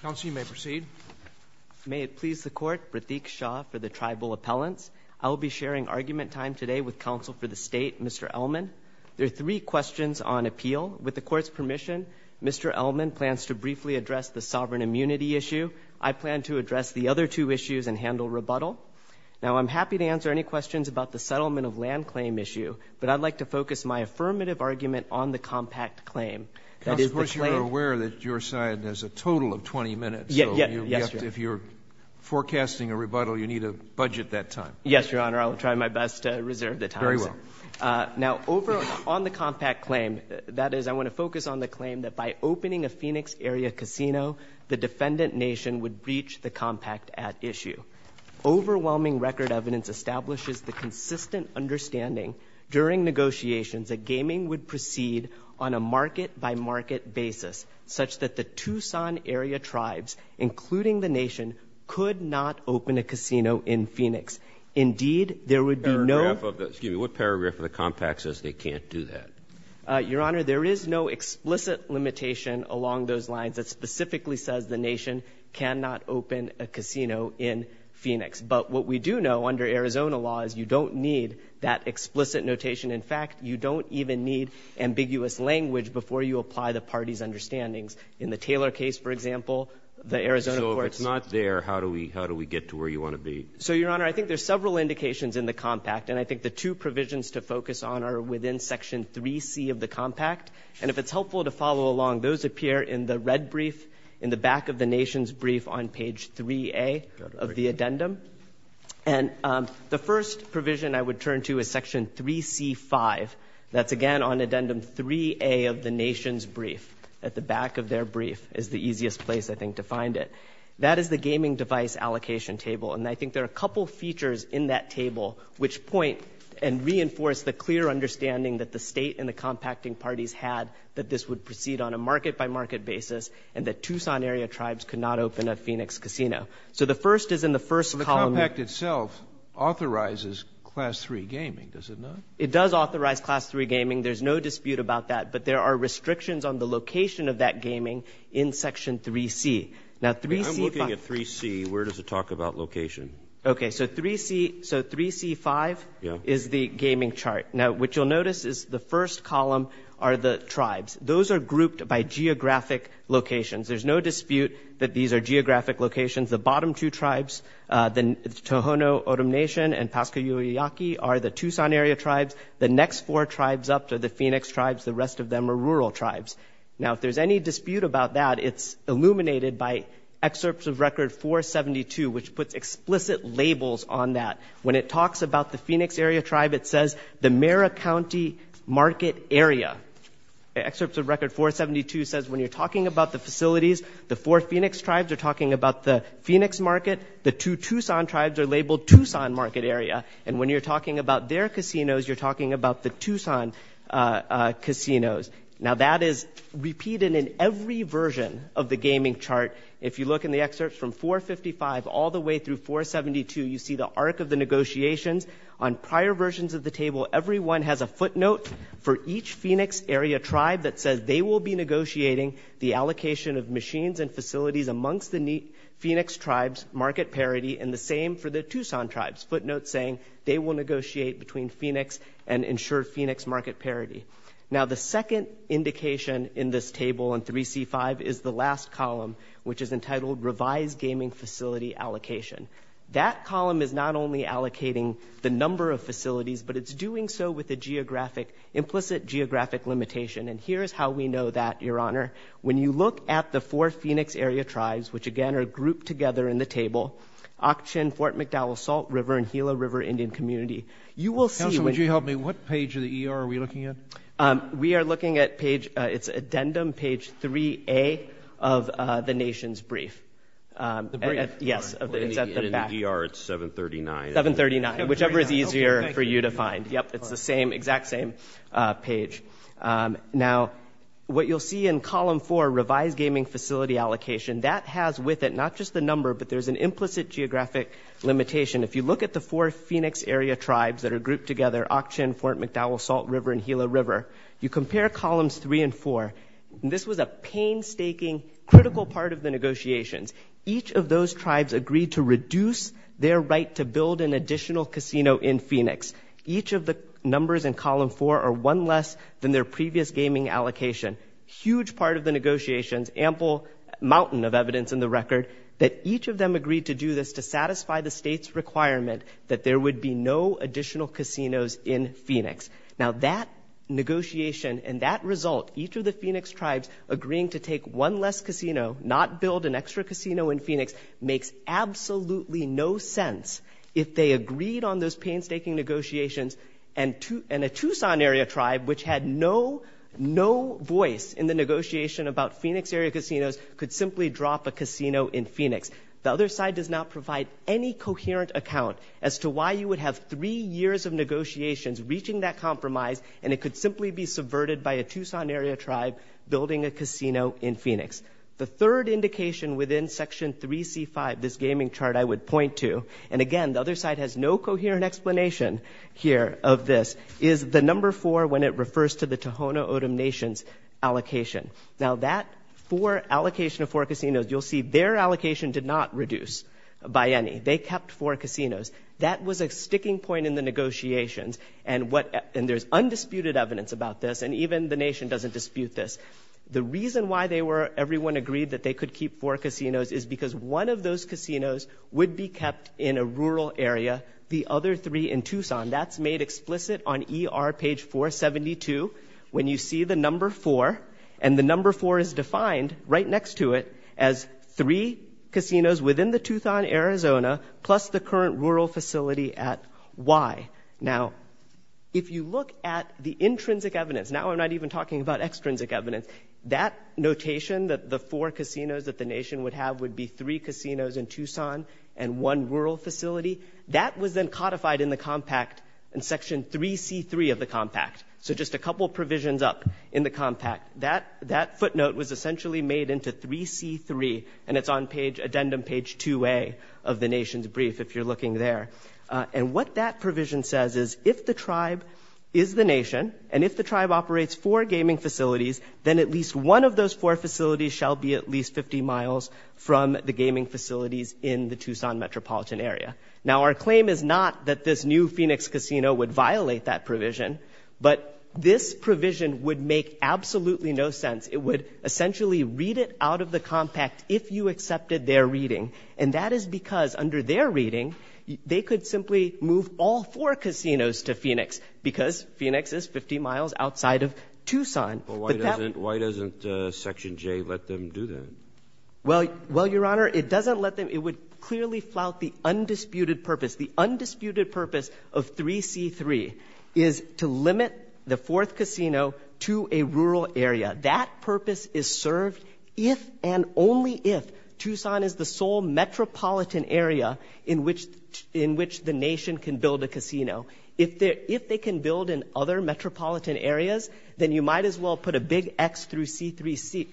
Council, you may proceed. May it please the Court, Radeek Shah for the Tribal Appellants. I will be sharing argument time today with Counsel for the State, Mr. Elman. There are three questions on appeal. With the Court's permission, Mr. Elman plans to briefly address the sovereign immunity issue. I plan to address the other two issues and handle rebuttal. Now, I'm happy to answer any questions about the settlement of land claim issue, but I'd like to focus my affirmative argument on the compact claim. Counsel, of course, you're aware that your side has a total of 20 minutes, so if you're forecasting a rebuttal, you need to budget that time. Yes, Your Honor. I'll try my best to reserve the time. Very well. Now, on the compact claim, that is, I want to focus on the claim that by opening a Phoenix area casino, the defendant nation would breach the compact at issue. Overwhelming record evidence establishes the consistent understanding during negotiations that gaming would proceed on a market-by-market basis, such that the Tucson area tribes, including the nation, could not open a casino in Phoenix. Indeed, there would be no — Paragraph of the — excuse me, what paragraph of the compact says they can't do that? Your Honor, there is no explicit limitation along those lines that specifically says the you don't need that explicit notation. In fact, you don't even need ambiguous language before you apply the parties' understandings. In the Taylor case, for example, the Arizona courts — So if it's not there, how do we — how do we get to where you want to be? So, Your Honor, I think there's several indications in the compact, and I think the two provisions to focus on are within section 3C of the compact. And if it's helpful to follow along, those appear in the red brief in the back of the nation's brief on page 3A of the addendum. And the first provision I would turn to is section 3C-5. That's, again, on addendum 3A of the nation's brief. At the back of their brief is the easiest place, I think, to find it. That is the gaming device allocation table. And I think there are a couple features in that table which point and reinforce the clear understanding that the state and the compacting parties had that this would proceed on a market-by-market basis and that Tucson area tribes could not open a Phoenix casino. So the first is in the first column — But the compact itself authorizes class 3 gaming, does it not? It does authorize class 3 gaming. There's no dispute about that. But there are restrictions on the location of that gaming in section 3C. Now, 3C — I'm looking at 3C. Where does it talk about location? Okay. So 3C — so 3C-5 is the gaming chart. Now, what you'll notice is the first column are the tribes. Those are grouped by geographic locations. There's no dispute that these are geographic locations. The bottom two tribes, the Tohono O'odham Nation and Pascua Yoyaki, are the Tucson area tribes. The next four tribes up are the Phoenix tribes. The rest of them are rural tribes. Now, if there's any dispute about that, it's illuminated by Excerpts of Record 472, which puts explicit labels on that. When it talks about the Phoenix area tribe, it says the Mara County market area. Excerpts of Record 472 says when you're Phoenix tribes are talking about the Phoenix market, the two Tucson tribes are labeled Tucson market area. And when you're talking about their casinos, you're talking about the Tucson casinos. Now, that is repeated in every version of the gaming chart. If you look in the excerpts from 455 all the way through 472, you see the arc of the negotiations. On prior versions of the table, everyone has a footnote for each Phoenix area tribe that says they will be negotiating the allocation of machines and facilities amongst the Phoenix tribes, market parity, and the same for the Tucson tribes, footnotes saying they will negotiate between Phoenix and ensure Phoenix market parity. Now, the second indication in this table in 3C5 is the last column, which is entitled Revised Gaming Facility Allocation. That column is not only allocating the number of facilities, but it's doing so with the geographic, implicit geographic limitation. And here's how we know that, Your Honor. When you look at the four Phoenix area tribes, which again are grouped together in the table, Auchtin, Fort McDowell Salt River, and Gila River Indian Community, you will see- Counsel, would you help me? What page of the ER are we looking at? We are looking at page, it's addendum page 3A of the nation's brief. The brief? Yes. In the ER, it's 739. 739, whichever is easier for you to find. Yep, it's the same, exact same page. Now, what you'll see in column four, Revised Gaming Facility Allocation, that has with it not just the number, but there's an implicit geographic limitation. If you look at the four Phoenix area tribes that are grouped together, Auchtin, Fort McDowell Salt River, and Gila River, you compare columns three and four. This was a painstaking, critical part of the negotiations. Each of those tribes agreed to reduce their right to build an additional casino in Phoenix. Each of the numbers in column four are one less than their previous gaming allocation. Huge part of the negotiations, ample mountain of evidence in the record, that each of them agreed to do this to satisfy the state's requirement that there would be no additional casinos in Phoenix. Now, that negotiation and that result, each of the Phoenix tribes agreeing to take one less casino, not build an extra casino in Phoenix, makes absolutely no sense if they agreed on those painstaking negotiations and a Tucson area tribe, which had no voice in the negotiation about Phoenix area casinos, could simply drop a casino in Phoenix. The other side does not provide any coherent account as to why you would have three years of negotiations reaching that compromise, and it could simply be subverted by a Tucson area tribe building a casino in Phoenix. The third indication within section 3C5, this gaming chart I would point to, and again, the other side has no coherent explanation here of this, is the number four when it refers to the Tohono O'odham Nation's allocation. Now, that four allocation of four casinos, you'll see their allocation did not reduce by any. They kept four casinos. That was a sticking point in the negotiations, and there's undisputed evidence about this, and even the Nation doesn't dispute this. The reason why they were, everyone agreed that they could keep four casinos is because one of those casinos would be kept in a rural area, the other three in Tucson. That's made explicit on ER page 472, when you see the number four, and the number four is defined right next to it as three casinos within the Tucson, Arizona, plus the current rural facility at Y. Now, if you look at the intrinsic evidence, now I'm not even talking about extrinsic evidence. That notation, that the four casinos that the Nation would have would be three casinos in Tucson and one rural facility, that was then codified in the compact, in section 3C3 of the compact. So just a couple provisions up in the compact. That footnote was essentially made into 3C3, and it's on page, addendum page 2A of the Nation's brief, if you're looking there. And what that provision says is, if the tribe is the Nation, and if the tribe operates four gaming facilities, then at least one of those four facilities shall be at least 50 miles from the gaming facilities in the Tucson metropolitan area. Now, our claim is not that this new Phoenix Casino would violate that provision, but this provision would make absolutely no sense. It would essentially read it out of the compact if you accepted their reading. And that is because, under their reading, they could simply move all four casinos to Phoenix, because Phoenix is 50 miles outside of Tucson. But that would Why doesn't Section J let them do that? Well, Your Honor, it doesn't let them. It would clearly flout the undisputed purpose. The undisputed purpose of 3C3 is to limit the fourth casino to a rural area. That purpose is served if and only if Tucson is the sole metropolitan area in which the Nation can build a casino. If they can build in other metropolitan areas, then you might as well put a big X through 3C3.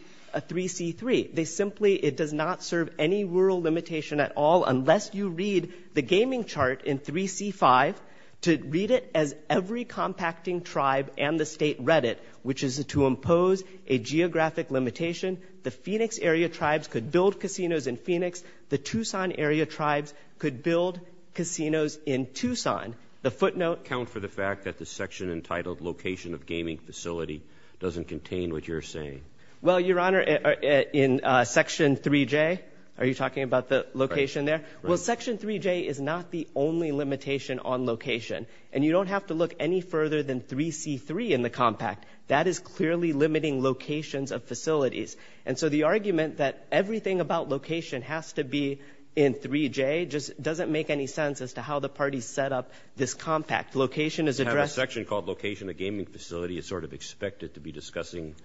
They simply, it does not serve any rural limitation at all unless you read the gaming chart in 3C5 to read it as every compacting tribe and the state read it, which is to impose a geographic limitation. The Phoenix area tribes could build casinos in Phoenix. The Tucson area tribes could build casinos in Tucson. The footnote Count for the fact that the section entitled Location of Gaming Facility doesn't contain what you're saying. Well, Your Honor, in Section 3J, are you talking about the location there? Well, Section 3J is not the only limitation on location. And you don't have to look any further than 3C3 in the compact. That is clearly limiting locations of facilities. And so the argument that everything about location has to be in 3J just doesn't make any sense as to how the parties set up this compact. Location is addressed. We have a section called Location of Gaming Facility. It's sort of expected to be discussing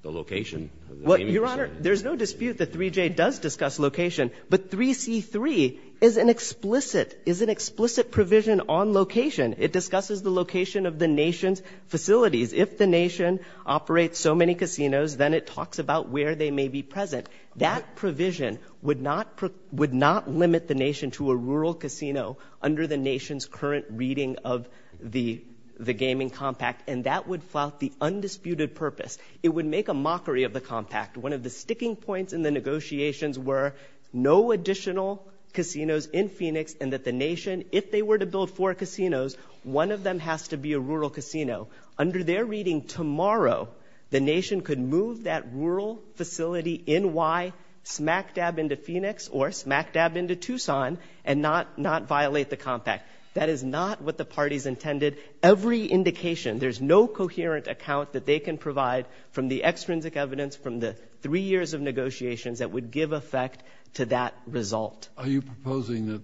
the location of the gaming facility. Your Honor, there's no dispute that 3J does discuss location, but 3C3 is an explicit, is an explicit provision on location. It discusses the location of the nation's facilities. If the nation operates so many casinos, then it talks about where they may be present. That provision would not, would not limit the nation to a rural casino under the nation's current reading of the, the gaming compact. And that would flout the undisputed purpose. It would make a mockery of the compact. One of the sticking points in the negotiations were no additional casinos in Phoenix and that the nation, if they were to build four casinos, one of them has to be a rural casino. Under their reading tomorrow, the nation could move that rural facility in Y smack dab into Phoenix or smack dab into Tucson and not, not violate the compact. That is not what the parties intended. Every indication, there's no coherent account that they can provide from the extrinsic evidence from the three years of negotiations that would give effect to that result. Are you proposing that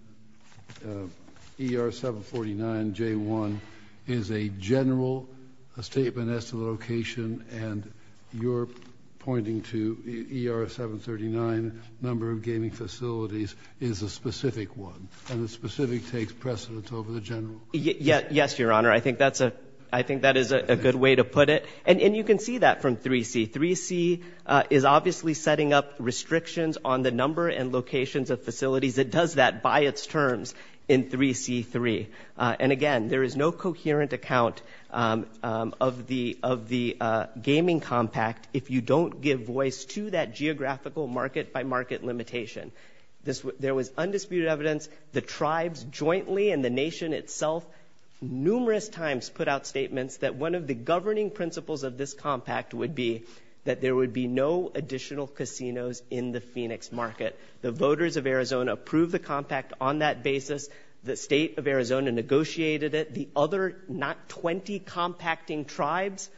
ER749J1 is a general, a statement as to the location and you're pointing to ER739 number of gaming facilities is a specific one and the specific takes precedence over the general? Yes, Your Honor. I think that's a, I think that is a good way to put it. And you can see that from 3C. 3C is obviously setting up restrictions on the number and locations of facilities. It does that by its terms in 3C3. And again, there is no coherent account of the, of the gaming compact if you don't give voice to that geographical market by market limitation. There was undisputed evidence, the tribes jointly and the nation itself numerous times put out statements that one of the governing principles of this compact would be that there would be no additional casinos in the Phoenix market. The voters of Arizona approved the compact on that basis. The state of Arizona negotiated it. The other not 20 compacting tribes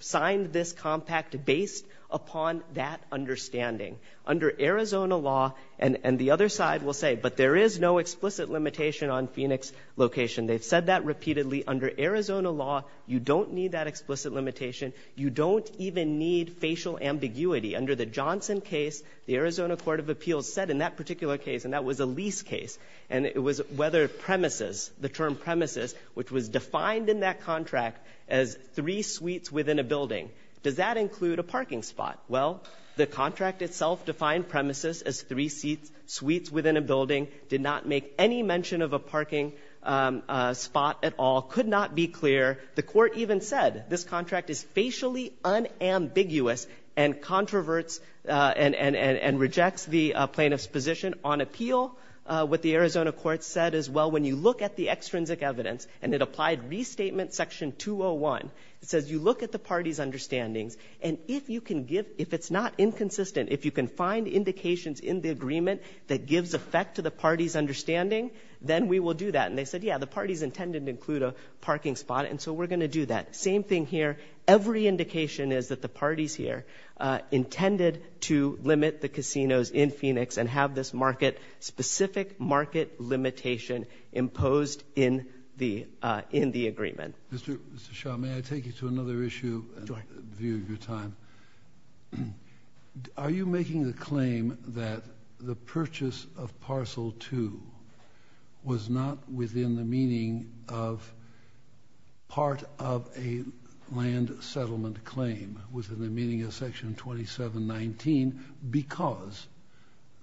signed this compact based upon that understanding. Under Arizona law, and the other side will say, but there is no explicit limitation on Arizona law. You don't need that explicit limitation. You don't even need facial ambiguity under the Johnson case. The Arizona court of appeals said in that particular case, and that was a lease case. And it was whether premises, the term premises, which was defined in that contract as three suites within a building. Does that include a parking spot? Well, the contract itself defined premises as three seats, suites within a building did not make any mention of a parking spot at all, could not be clear. The court even said this contract is facially unambiguous and controverts and rejects the plaintiff's position on appeal. What the Arizona court said as well, when you look at the extrinsic evidence and it applied restatement section 201, it says you look at the party's understandings. And if you can give, if it's not inconsistent, if you can find indications in the agreement that gives effect to the party's understanding, then we will do that. And they said, yeah, the party's intended to include a parking spot. And so we're going to do that. Same thing here. Every indication is that the party's here, uh, intended to limit the casinos in Phoenix and have this market specific market limitation imposed in the, uh, in the agreement. Mr. Shah, may I take you to another issue and view your time? Are you making the claim that the purchase of parcel two was not within the meaning of part of a land settlement claim within the meaning of section 2719 because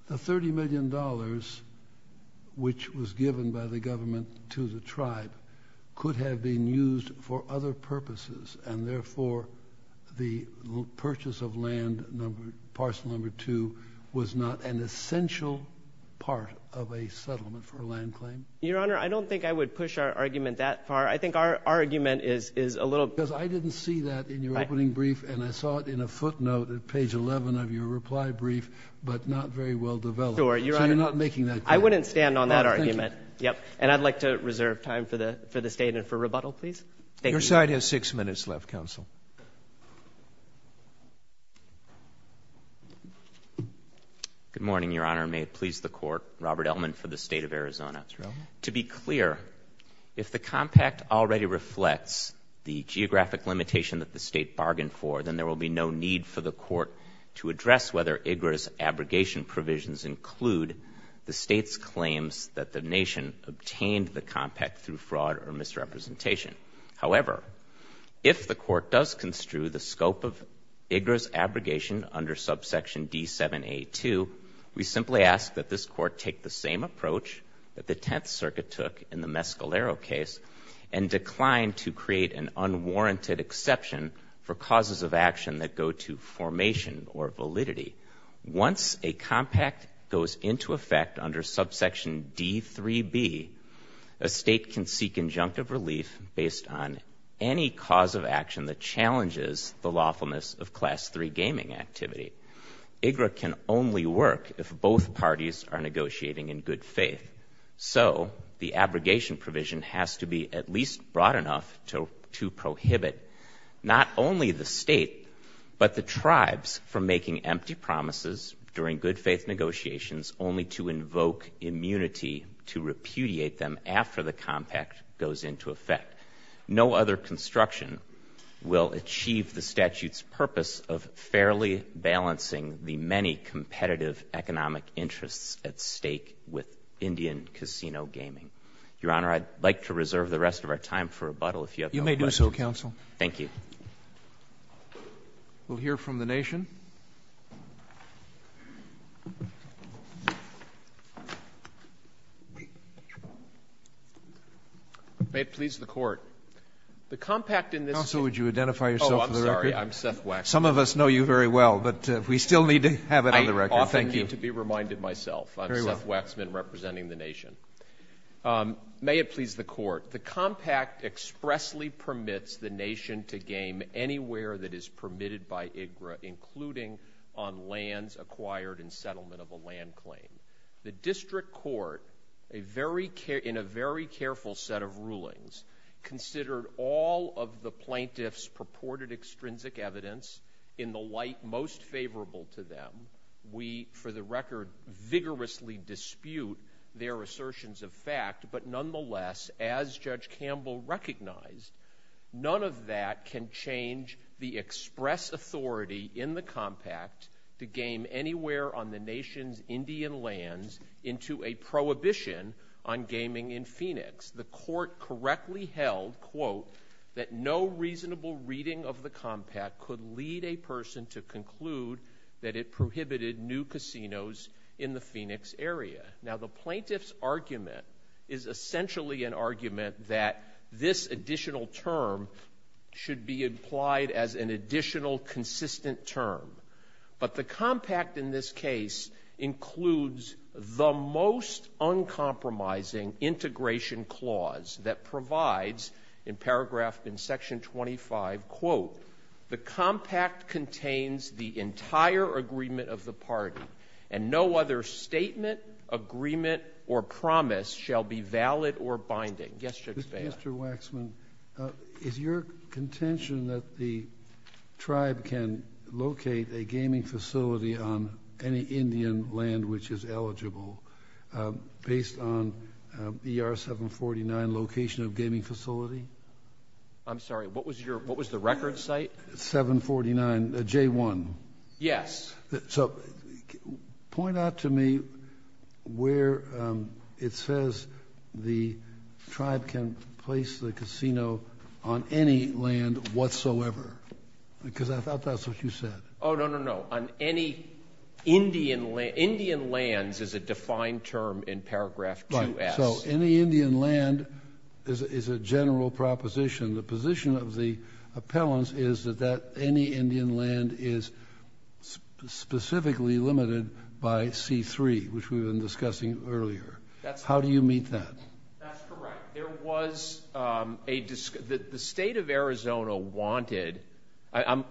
the $30 million, which was given by the government to the tribe could have been used for other purposes. And therefore the purchase of land number parcel number two was not an essential part of a settlement for a land claim. Your honor, I don't think I would push our argument that far. I think our argument is, is a little because I didn't see that in your opening brief and I saw it in a footnote at page 11 of your reply brief, but not very well developed or you're not making that. I wouldn't stand on that argument. Yep. And I'd like to reserve time for the, for the state and for rebuttal. Please. Your side has six minutes left. Counsel. Good morning, your honor. May it please the court. Robert Ellman for the state of Arizona. To be clear, if the compact already reflects the geographic limitation that the state bargained for, then there will be no need for the court to address whether IGRA's abrogation provisions include the state's claims that the nation obtained the compact through fraud or misrepresentation. However, if the court does construe the scope of IGRA's abrogation under subsection D782, we simply ask that this court take the same approach that the 10th circuit took in the Mescalero case and declined to create an unwarranted exception for causes of action that go to formation or validity. Once a compact goes into effect under subsection D3B, a state can seek injunctive relief based on any cause of action that challenges the lawfulness of class three gaming activity. IGRA can only work if both parties are negotiating in good faith. So the abrogation provision has to be at least broad enough to, to prohibit not only the state, but the tribes from making empty promises during good faith negotiations only to invoke immunity to repudiate them after the compact goes into effect. No other construction will achieve the statute's purpose of fairly balancing the many competitive economic interests at stake with Indian casino gaming. Your Honor, I'd like to reserve the rest of our time for rebuttal if you have any questions. You may do so, counsel. Thank you. We'll hear from the nation. May it please the court. The compact in this... Counsel, would you identify yourself for the record? Oh, I'm sorry. I'm Seth Waxman. Some of us know you very well, but we still need to have it on the record. Thank you. I often need to be reminded myself. I'm Seth Waxman, representing the nation. May it please the court. The compact expressly permits the nation to game anywhere that is permitted by IGRA, including on lands acquired in settlement of a land claim. The district court, in a very careful set of rulings, considered all of the plaintiff's purported extrinsic evidence in the light most favorable to them. We, for the record, vigorously dispute their assertions of fact, but nonetheless, as Judge Campbell recognized, none of that can change the express authority in the compact to game anywhere on the nation's Indian lands into a prohibition on gaming in Phoenix. The court correctly held, quote, that no reasonable reading of the compact could lead a person to conclude that it prohibited new casinos in the Phoenix area. Now, the plaintiff's argument is essentially an argument that this additional term should be implied as an additional consistent term, but the compact in this case includes the most uncompromising integration clause that provides in paragraph in section 25, quote, the compact contains the entire agreement of the party and no other statement, agreement, or promise shall be valid or binding. Yes, Judge Bailiff. Mr. Waxman, is your contention that the tribe can locate a gaming facility on any Indian land which is eligible based on ER 749 location of gaming facility? I'm sorry. What was the record site? 749, J1. Yes. So point out to me where it says the tribe can place the casino on any land whatsoever because I thought that's what you said. Oh, no, no, no. On any Indian land. Indian lands is a defined term in paragraph 2S. Right. So any Indian land is a general proposition. The position of the appellants is that any Indian land is specifically limited by C3, which we were discussing earlier. How do you meet that? That's correct. The State of Arizona wanted – I'm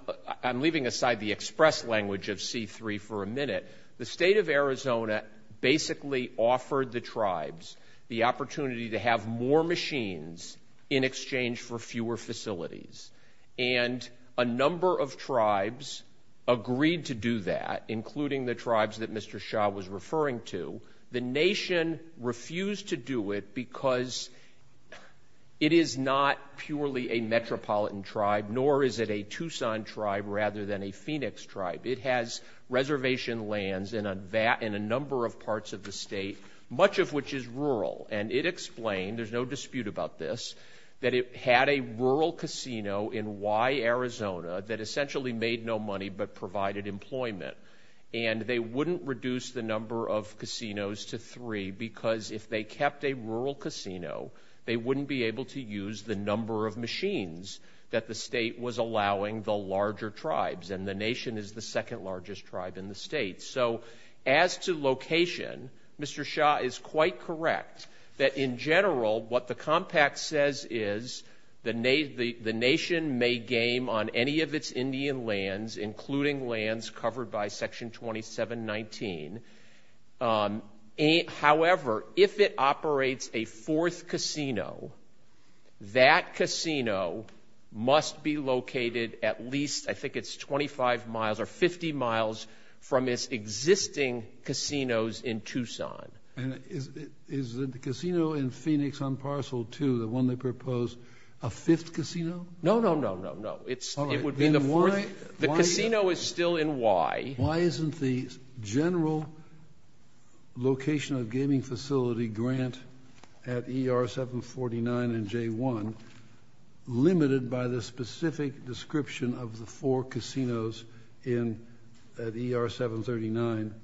leaving aside the express language of C3 for a minute. The State of Arizona basically offered the tribes the opportunity to have more machines in exchange for fewer facilities, and a number of tribes agreed to do that, including the tribes that Mr. Shah was referring to. The nation refused to do it because it is not purely a metropolitan tribe, nor is it a Tucson tribe rather than a Phoenix tribe. It has reservation lands in a number of parts of the state, much of which is rural, and it explained – there's no dispute about this – that it had a rural casino in Y, Arizona that essentially made no money but provided employment, and they wouldn't reduce the number of casinos to three because if they kept a rural casino, they wouldn't be able to use the number of machines that the state was allowing the larger tribes, and the nation is the second largest tribe in the state. So as to location, Mr. Shah is quite correct that in general what the compact says is the nation may game on any of its Indian lands, including lands covered by Section 2719. However, if it operates a fourth casino, that casino must be located at least – I think it's 25 miles or 50 miles from its existing casinos in Tucson. And is the casino in Phoenix on Parcel 2, the one they proposed, a fifth casino? No, no, no, no, no. It would be the fourth. The casino is still in Y. Why isn't the general location of gaming facility grant at ER 749 and J1 limited by the specific description of the four casinos at ER 739,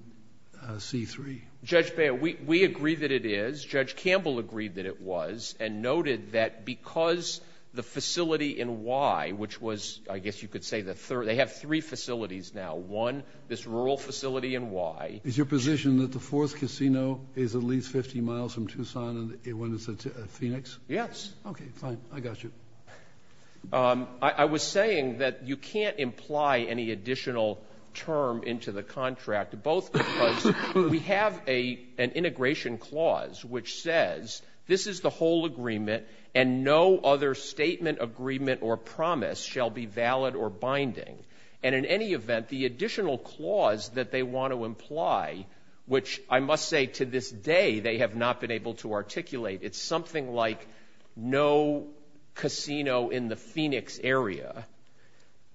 C3? Judge Baird, we agree that it is. Judge Campbell agreed that it was and noted that because the facility in Y, which was – I guess you could say the third – they have three facilities now. One, this rural facility in Y. Is your position that the fourth casino is at least 50 miles from Tucson when it's in Phoenix? Yes. Okay, fine. I got you. I was saying that you can't imply any additional term into the contract, both because we have an integration clause which says this is the whole agreement and no other statement, agreement, or promise shall be valid or binding. And in any event, the additional clause that they want to imply, which I must say to this day they have not been able to articulate, it's something like no casino in the Phoenix area.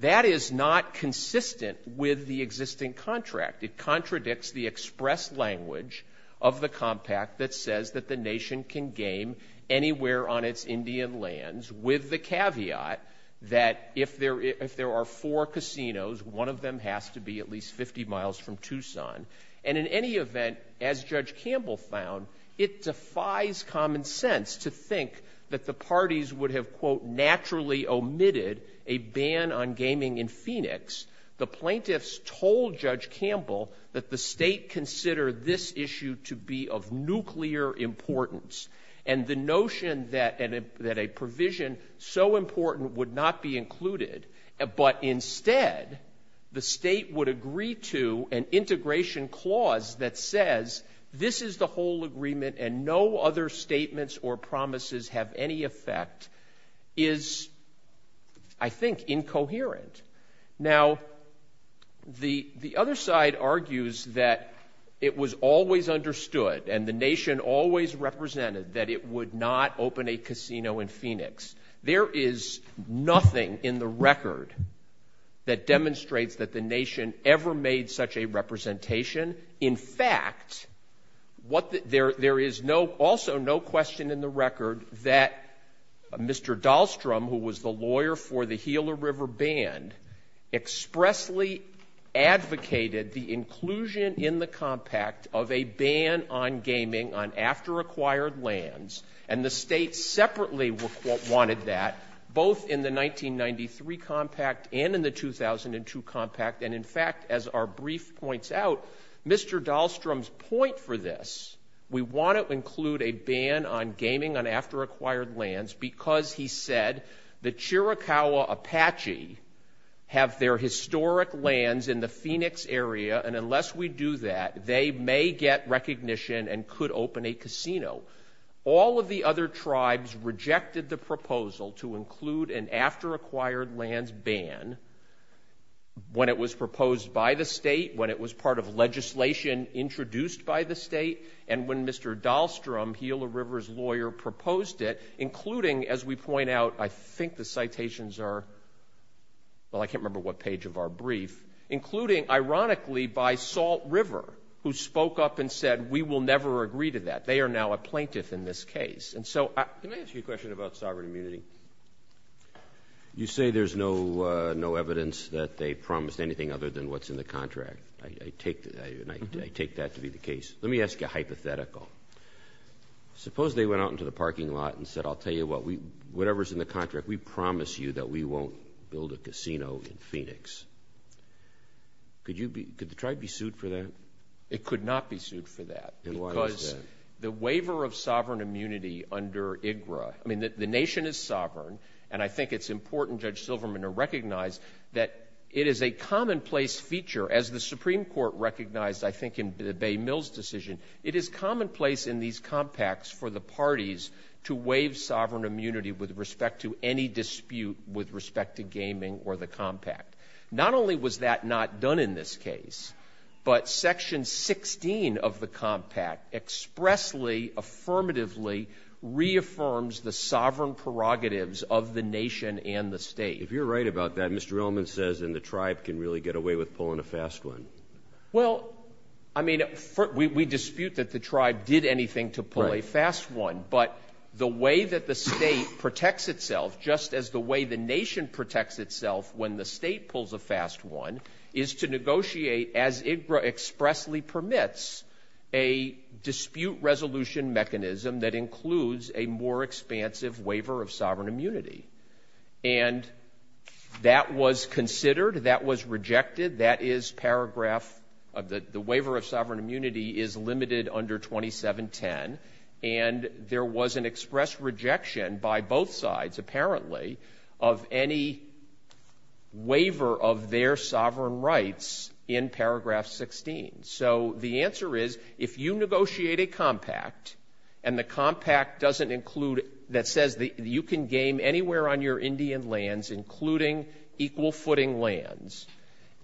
That is not consistent with the existing contract. It contradicts the express language of the compact that says that the nation can game anywhere on its Indian lands with the caveat that if there are four casinos, one of them has to be at least 50 miles from Tucson. And in any event, as Judge Campbell found, it defies common sense to think that the parties would have, quote, naturally omitted a ban on gaming in Phoenix. The plaintiffs told Judge Campbell that the state considered this issue to be of nuclear importance, and the notion that a provision so important would not be included, but instead the state would agree to an integration clause that says this is the whole agreement and no other statements or promises have any effect is, I think, incoherent. Now, the other side argues that it was always understood and the nation always represented that it would not open a casino in Phoenix. There is nothing in the record that demonstrates that the nation ever made such a representation. In fact, there is also no question in the record that Mr. Dahlstrom, who was the lawyer for the Gila River Band, expressly advocated the inclusion in the compact of a ban on gaming on after-acquired lands, and the state separately, quote, wanted that both in the 1993 compact and in the 2002 compact. And, in fact, as our brief points out, Mr. Dahlstrom's point for this, we want to include a ban on gaming on after-acquired lands because he said the Chiricahua Apache have their historic lands in the Phoenix area, and unless we do that, they may get recognition and could open a casino. All of the other tribes rejected the proposal to include an after-acquired lands ban when it was proposed by the state, when it was part of legislation introduced by the state, and when Mr. Dahlstrom, Gila River's lawyer, proposed it, including, as we point out, I think the citations are, well, I can't remember what page of our brief, including, ironically, by Salt River, who spoke up and said we will never agree to that. They are now a plaintiff in this case. And so let me ask you a question about sovereign immunity. You say there's no evidence that they promised anything other than what's in the contract. I take that to be the case. Let me ask you a hypothetical. Suppose they went out into the parking lot and said, I'll tell you what, whatever's in the contract, we promise you that we won't build a casino in Phoenix. Could the tribe be sued for that? It could not be sued for that because the waiver of sovereign immunity under IGRA, I mean the nation is sovereign, and I think it's important, Judge Silverman, to recognize that it is a commonplace feature, as the Supreme Court recognized, I think, in the Bay Mills decision, it is commonplace in these compacts for the parties to waive sovereign immunity with respect to any dispute with respect to gaming or the compact. Not only was that not done in this case, but Section 16 of the compact expressly, affirmatively, reaffirms the sovereign prerogatives of the nation and the state. If you're right about that, Mr. Ellman says, then the tribe can really get away with pulling a fast one. Well, I mean, we dispute that the tribe did anything to pull a fast one, but the way that the state protects itself, just as the way the nation protects itself when the state pulls a fast one, is to negotiate, as IGRA expressly permits, a dispute resolution mechanism that includes a more expansive waiver of sovereign immunity. And that was considered, that was rejected. That is paragraph, the waiver of sovereign immunity is limited under 2710, and there was an express rejection by both sides, apparently, of any waiver of their sovereign rights in paragraph 16. So the answer is, if you negotiate a compact, and the compact doesn't include, that says you can game anywhere on your Indian lands, including equal footing lands,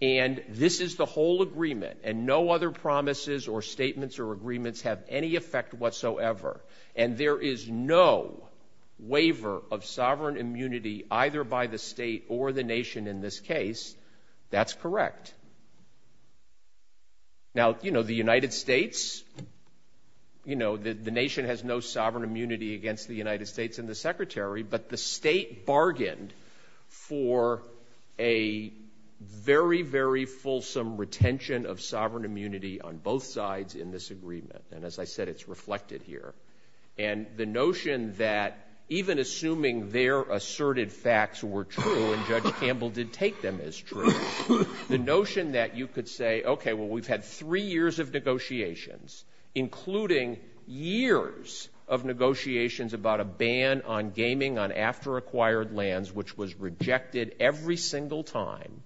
and this is the whole agreement, and no other promises or statements or agreements have any effect whatsoever, and there is no waiver of sovereign immunity, either by the state or the nation in this case, that's correct. Now, you know, the United States, you know, the nation has no sovereign immunity against the United States and the Secretary, but the state bargained for a very, very fulsome retention of sovereign immunity on both sides in this agreement. And as I said, it's reflected here. And the notion that even assuming their asserted facts were true, and Judge Campbell did take them as true, the notion that you could say, okay, well, we've had three years of negotiations, including years of negotiations about a ban on gaming on after-acquired lands, which was rejected every single time,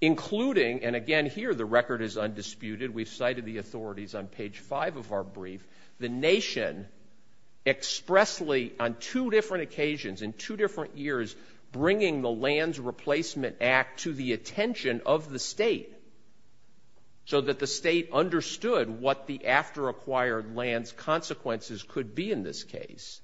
including, and again, here the record is undisputed. We've cited the authorities on page five of our brief. The nation expressly, on two different occasions, in two different years, bringing the Lands Replacement Act to the attention of the state so that the state understood what the after-acquired lands consequences could be in this case.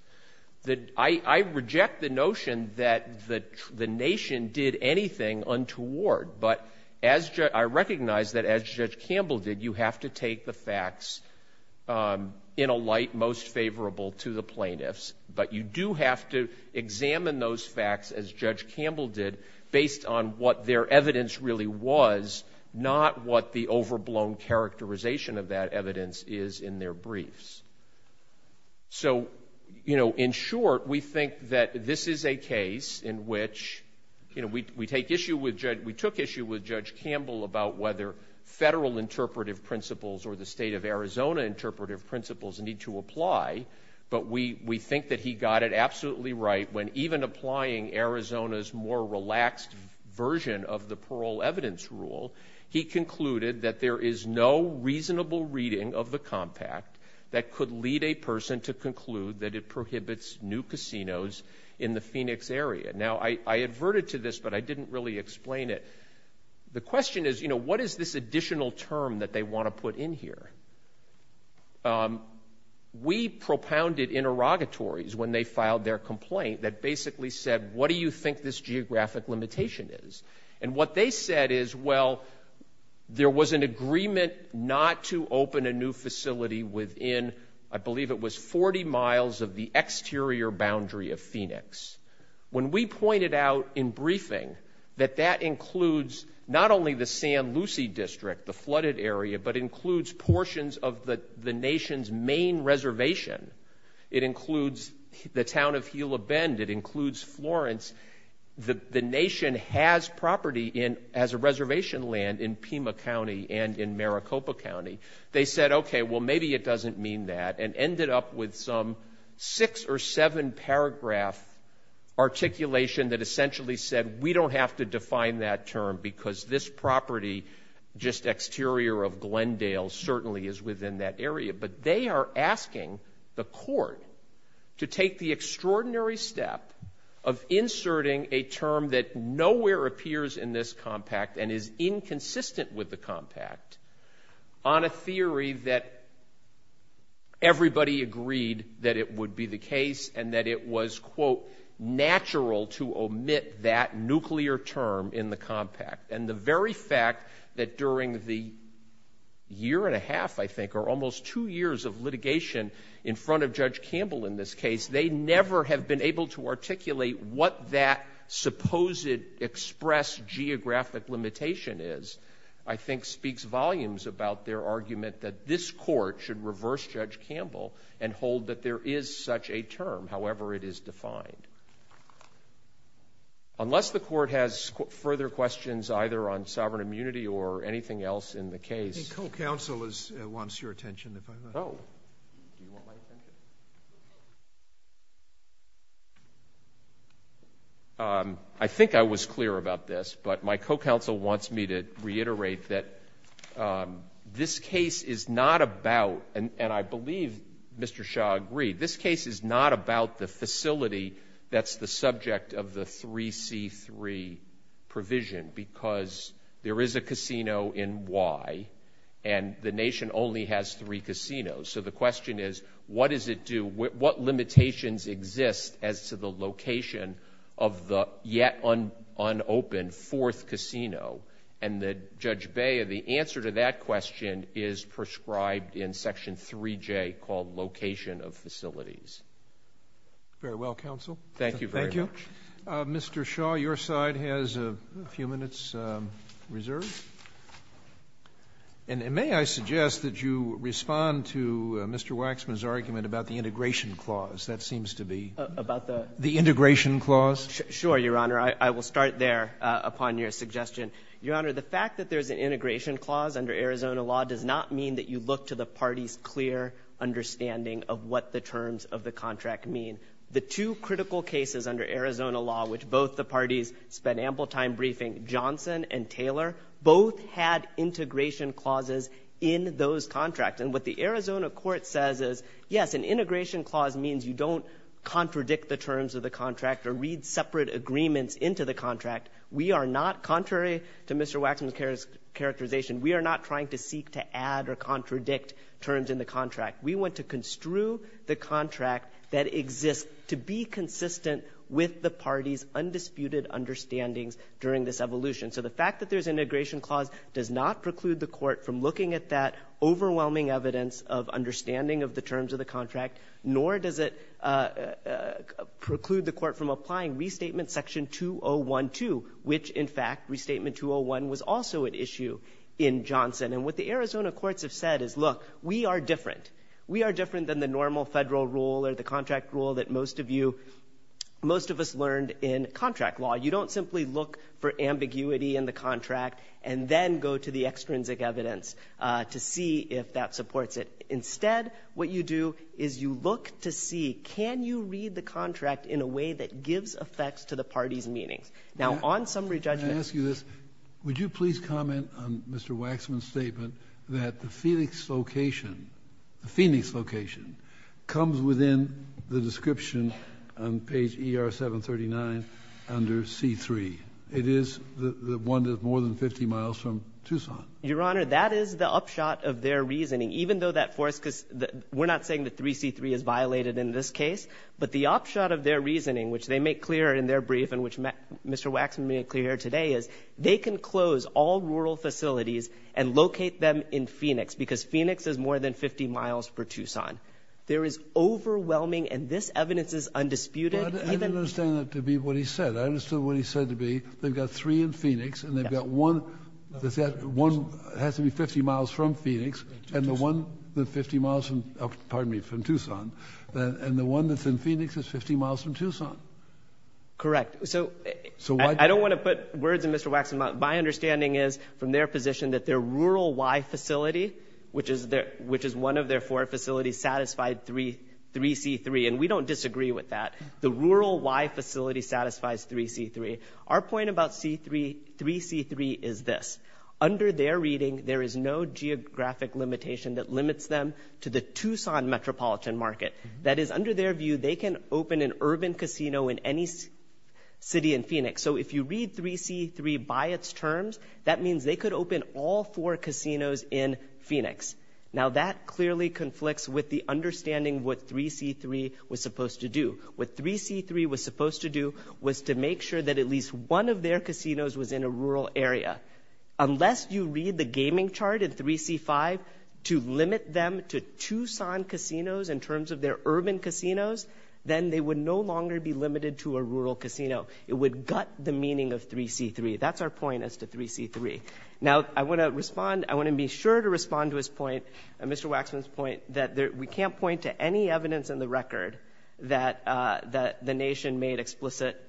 I reject the notion that the nation did anything untoward, but I recognize that as Judge Campbell did, you have to take the facts in a light most favorable to the plaintiffs, but you do have to examine those facts, as Judge Campbell did, based on what their evidence really was, not what the overblown characterization of that evidence is in their briefs. So, you know, in short, we think that this is a case in which, you know, we took issue with Judge Campbell about whether federal interpretive principles or the state of Arizona interpretive principles need to apply, but we think that he got it absolutely right when even applying Arizona's more relaxed version of the parole evidence rule, he concluded that there is no reasonable reading of the compact that could lead a person to conclude that it prohibits new casinos in the Phoenix area. Now, I adverted to this, but I didn't really explain it. The question is, you know, what is this additional term that they want to put in here? We propounded interrogatories when they filed their complaint that basically said, what do you think this geographic limitation is? And what they said is, well, there was an agreement not to open a new facility within, I believe it was 40 miles of the exterior boundary of Phoenix. When we pointed out in briefing that that includes not only the San Lucy District, the flooded area, but includes portions of the nation's main reservation. It includes the town of Gila Bend. It includes Florence. The nation has property as a reservation land in Pima County and in Maricopa County. They said, okay, well, maybe it doesn't mean that, and ended up with some six or seven paragraph articulation that essentially said, we don't have to define that term because this property just exterior of Glendale certainly is within that area. But they are asking the court to take the extraordinary step of inserting a term that nowhere appears in this compact and is inconsistent with the compact on a theory that everybody agreed that it would be the case and that it was, quote, natural to omit that nuclear term in the compact. And the very fact that during the year and a half, I think, or almost two years of litigation in front of Judge Campbell in this case, they never have been able to articulate what that supposed express geographic limitation is, I think speaks volumes about their argument that this court should reverse Judge Campbell and hold that there is such a term, however it is defined. Unless the court has further questions either on sovereign immunity or anything else in the case. I think co-counsel wants your attention, if I might. Oh. I think I was clear about this, but my co-counsel wants me to reiterate that this case is not about, and I believe Mr. Shah agreed, this case is not about the facility that's the subject of the 3C3 provision because there is a casino in Y and the nation only has three casinos. So the question is, what does it do? What limitations exist as to the location of the yet unopened fourth casino? And Judge Bea, the answer to that question is prescribed in Section 3J called location of facilities. Very well, counsel. Thank you very much. Thank you. Mr. Shah, your side has a few minutes reserved. And may I suggest that you respond to Mr. Waxman's argument about the integration clause. That seems to be the integration clause. Sure, Your Honor. I will start there upon your suggestion. Your Honor, the fact that there's an integration clause under Arizona law does not mean that you look to the party's clear understanding of what the terms of the contract mean. The two critical cases under Arizona law, which both the parties spent ample time briefing, Johnson and Taylor, both had integration clauses in those contracts. And what the Arizona court says is, yes, an integration clause means you don't contradict the terms of the contract or read separate agreements into the contract. We are not, contrary to Mr. Waxman's characterization, we are not trying to seek to add or contradict terms in the contract. We want to construe the contract that exists to be consistent with the party's undisputed understandings during this evolution. So the fact that there's an integration clause does not preclude the court from looking at that overwhelming evidence of understanding of the terms of the contract, nor does it preclude the court from applying Restatement Section 2012, which, in fact, Restatement 201 was also an issue in Johnson. And what the Arizona courts have said is, look, we are different. We are different than the normal federal rule or the contract rule that most of you, most of us learned in contract law. You don't simply look for ambiguity in the contract and then go to the extrinsic evidence to see if that supports it. Instead, what you do is you look to see, can you read the contract in a way that gives effects to the party's meanings? Now, on summary judgment— Can I ask you this? Would you please comment on Mr. Waxman's statement that the Phoenix location comes within the description on page ER-739 under C-3? It is the one that's more than 50 miles from Tucson. Your Honor, that is the upshot of their reasoning. Even though that force—we're not saying that 3C-3 is violated in this case, but the upshot of their reasoning, which they make clear in their brief and which Mr. Waxman made clear here today, is they can close all rural facilities and locate them in Phoenix because Phoenix is more than 50 miles from Tucson. There is overwhelming—and this evidence is undisputed. I didn't understand that to be what he said. I understood what he said to be they've got three in Phoenix and they've got one that has to be 50 miles from Phoenix and the one that's in Phoenix is 50 miles from Tucson. Correct. So I don't want to put words in Mr. Waxman's mouth. My understanding is from their position that their rural Y facility, which is one of their four facilities, satisfied 3C-3, and we don't disagree with that. The rural Y facility satisfies 3C-3. Our point about 3C-3 is this. That limits them to the Tucson metropolitan market. That is, under their view, they can open an urban casino in any city in Phoenix. So if you read 3C-3 by its terms, that means they could open all four casinos in Phoenix. Now, that clearly conflicts with the understanding of what 3C-3 was supposed to do. What 3C-3 was supposed to do was to make sure that at least one of their casinos was in a rural area. Unless you read the gaming chart in 3C-5 to limit them to Tucson casinos in terms of their urban casinos, then they would no longer be limited to a rural casino. It would gut the meaning of 3C-3. That's our point as to 3C-3. Now, I want to respond. I want to be sure to respond to his point, Mr. Waxman's point, that we can't point to any evidence in the record that the nation made explicit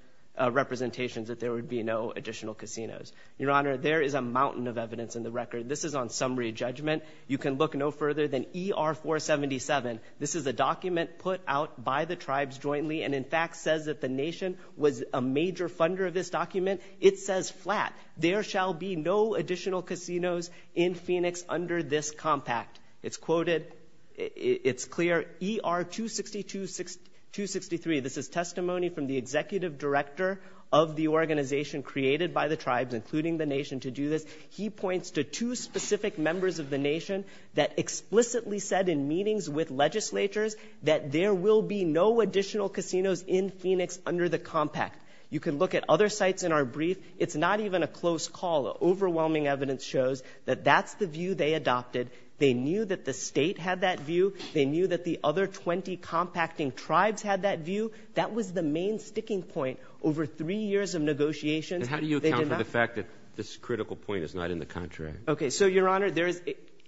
representations that there would be no additional casinos. Your Honor, there is a mountain of evidence in the record. This is on summary judgment. You can look no further than ER-477. This is a document put out by the tribes jointly and, in fact, says that the nation was a major funder of this document. It says flat, there shall be no additional casinos in Phoenix under this compact. It's quoted. It's clear. ER-262-263, this is testimony from the executive director of the organization created by the tribes, including the nation, to do this. He points to two specific members of the nation that explicitly said in meetings with legislatures that there will be no additional casinos in Phoenix under the compact. You can look at other sites in our brief. It's not even a close call. Overwhelming evidence shows that that's the view they adopted. They knew that the state had that view. They knew that the other 20 compacting tribes had that view. That was the main sticking point over three years of negotiations. And how do you account for the fact that this critical point is not in the contract? Okay, so, Your Honor, there is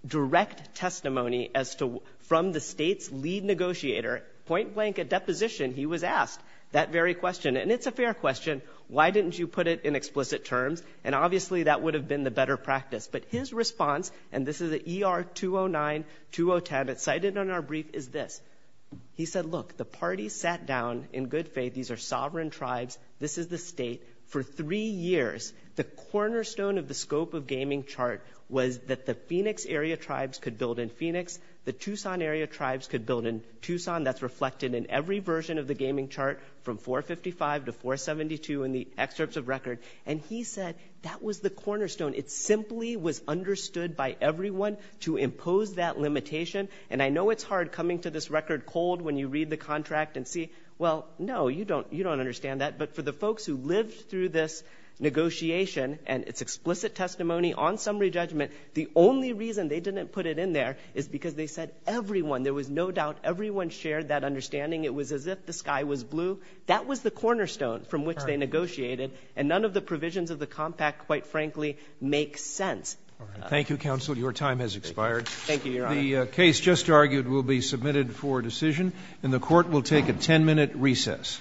direct testimony as to from the state's lead negotiator, point blank, a deposition, he was asked that very question. And it's a fair question. Why didn't you put it in explicit terms? And, obviously, that would have been the better practice. But his response, and this is an ER-209-2010 that's cited in our brief, is this. He said, look, the parties sat down in good faith. These are sovereign tribes. This is the state. For three years, the cornerstone of the scope of gaming chart was that the Phoenix area tribes could build in Phoenix. The Tucson area tribes could build in Tucson. That's reflected in every version of the gaming chart from 455 to 472 in the excerpts of record. And he said that was the cornerstone. It simply was understood by everyone to impose that limitation. And I know it's hard coming to this record cold when you read the contract and see, well, no, you don't understand that. But for the folks who lived through this negotiation and its explicit testimony on summary judgment, the only reason they didn't put it in there is because they said everyone, there was no doubt everyone shared that understanding. It was as if the sky was blue. That was the cornerstone from which they negotiated. And none of the provisions of the compact, quite frankly, make sense. Thank you, Counsel. Your time has expired. Thank you, Your Honor. The case just argued will be submitted for decision, and the court will take a ten-minute recess.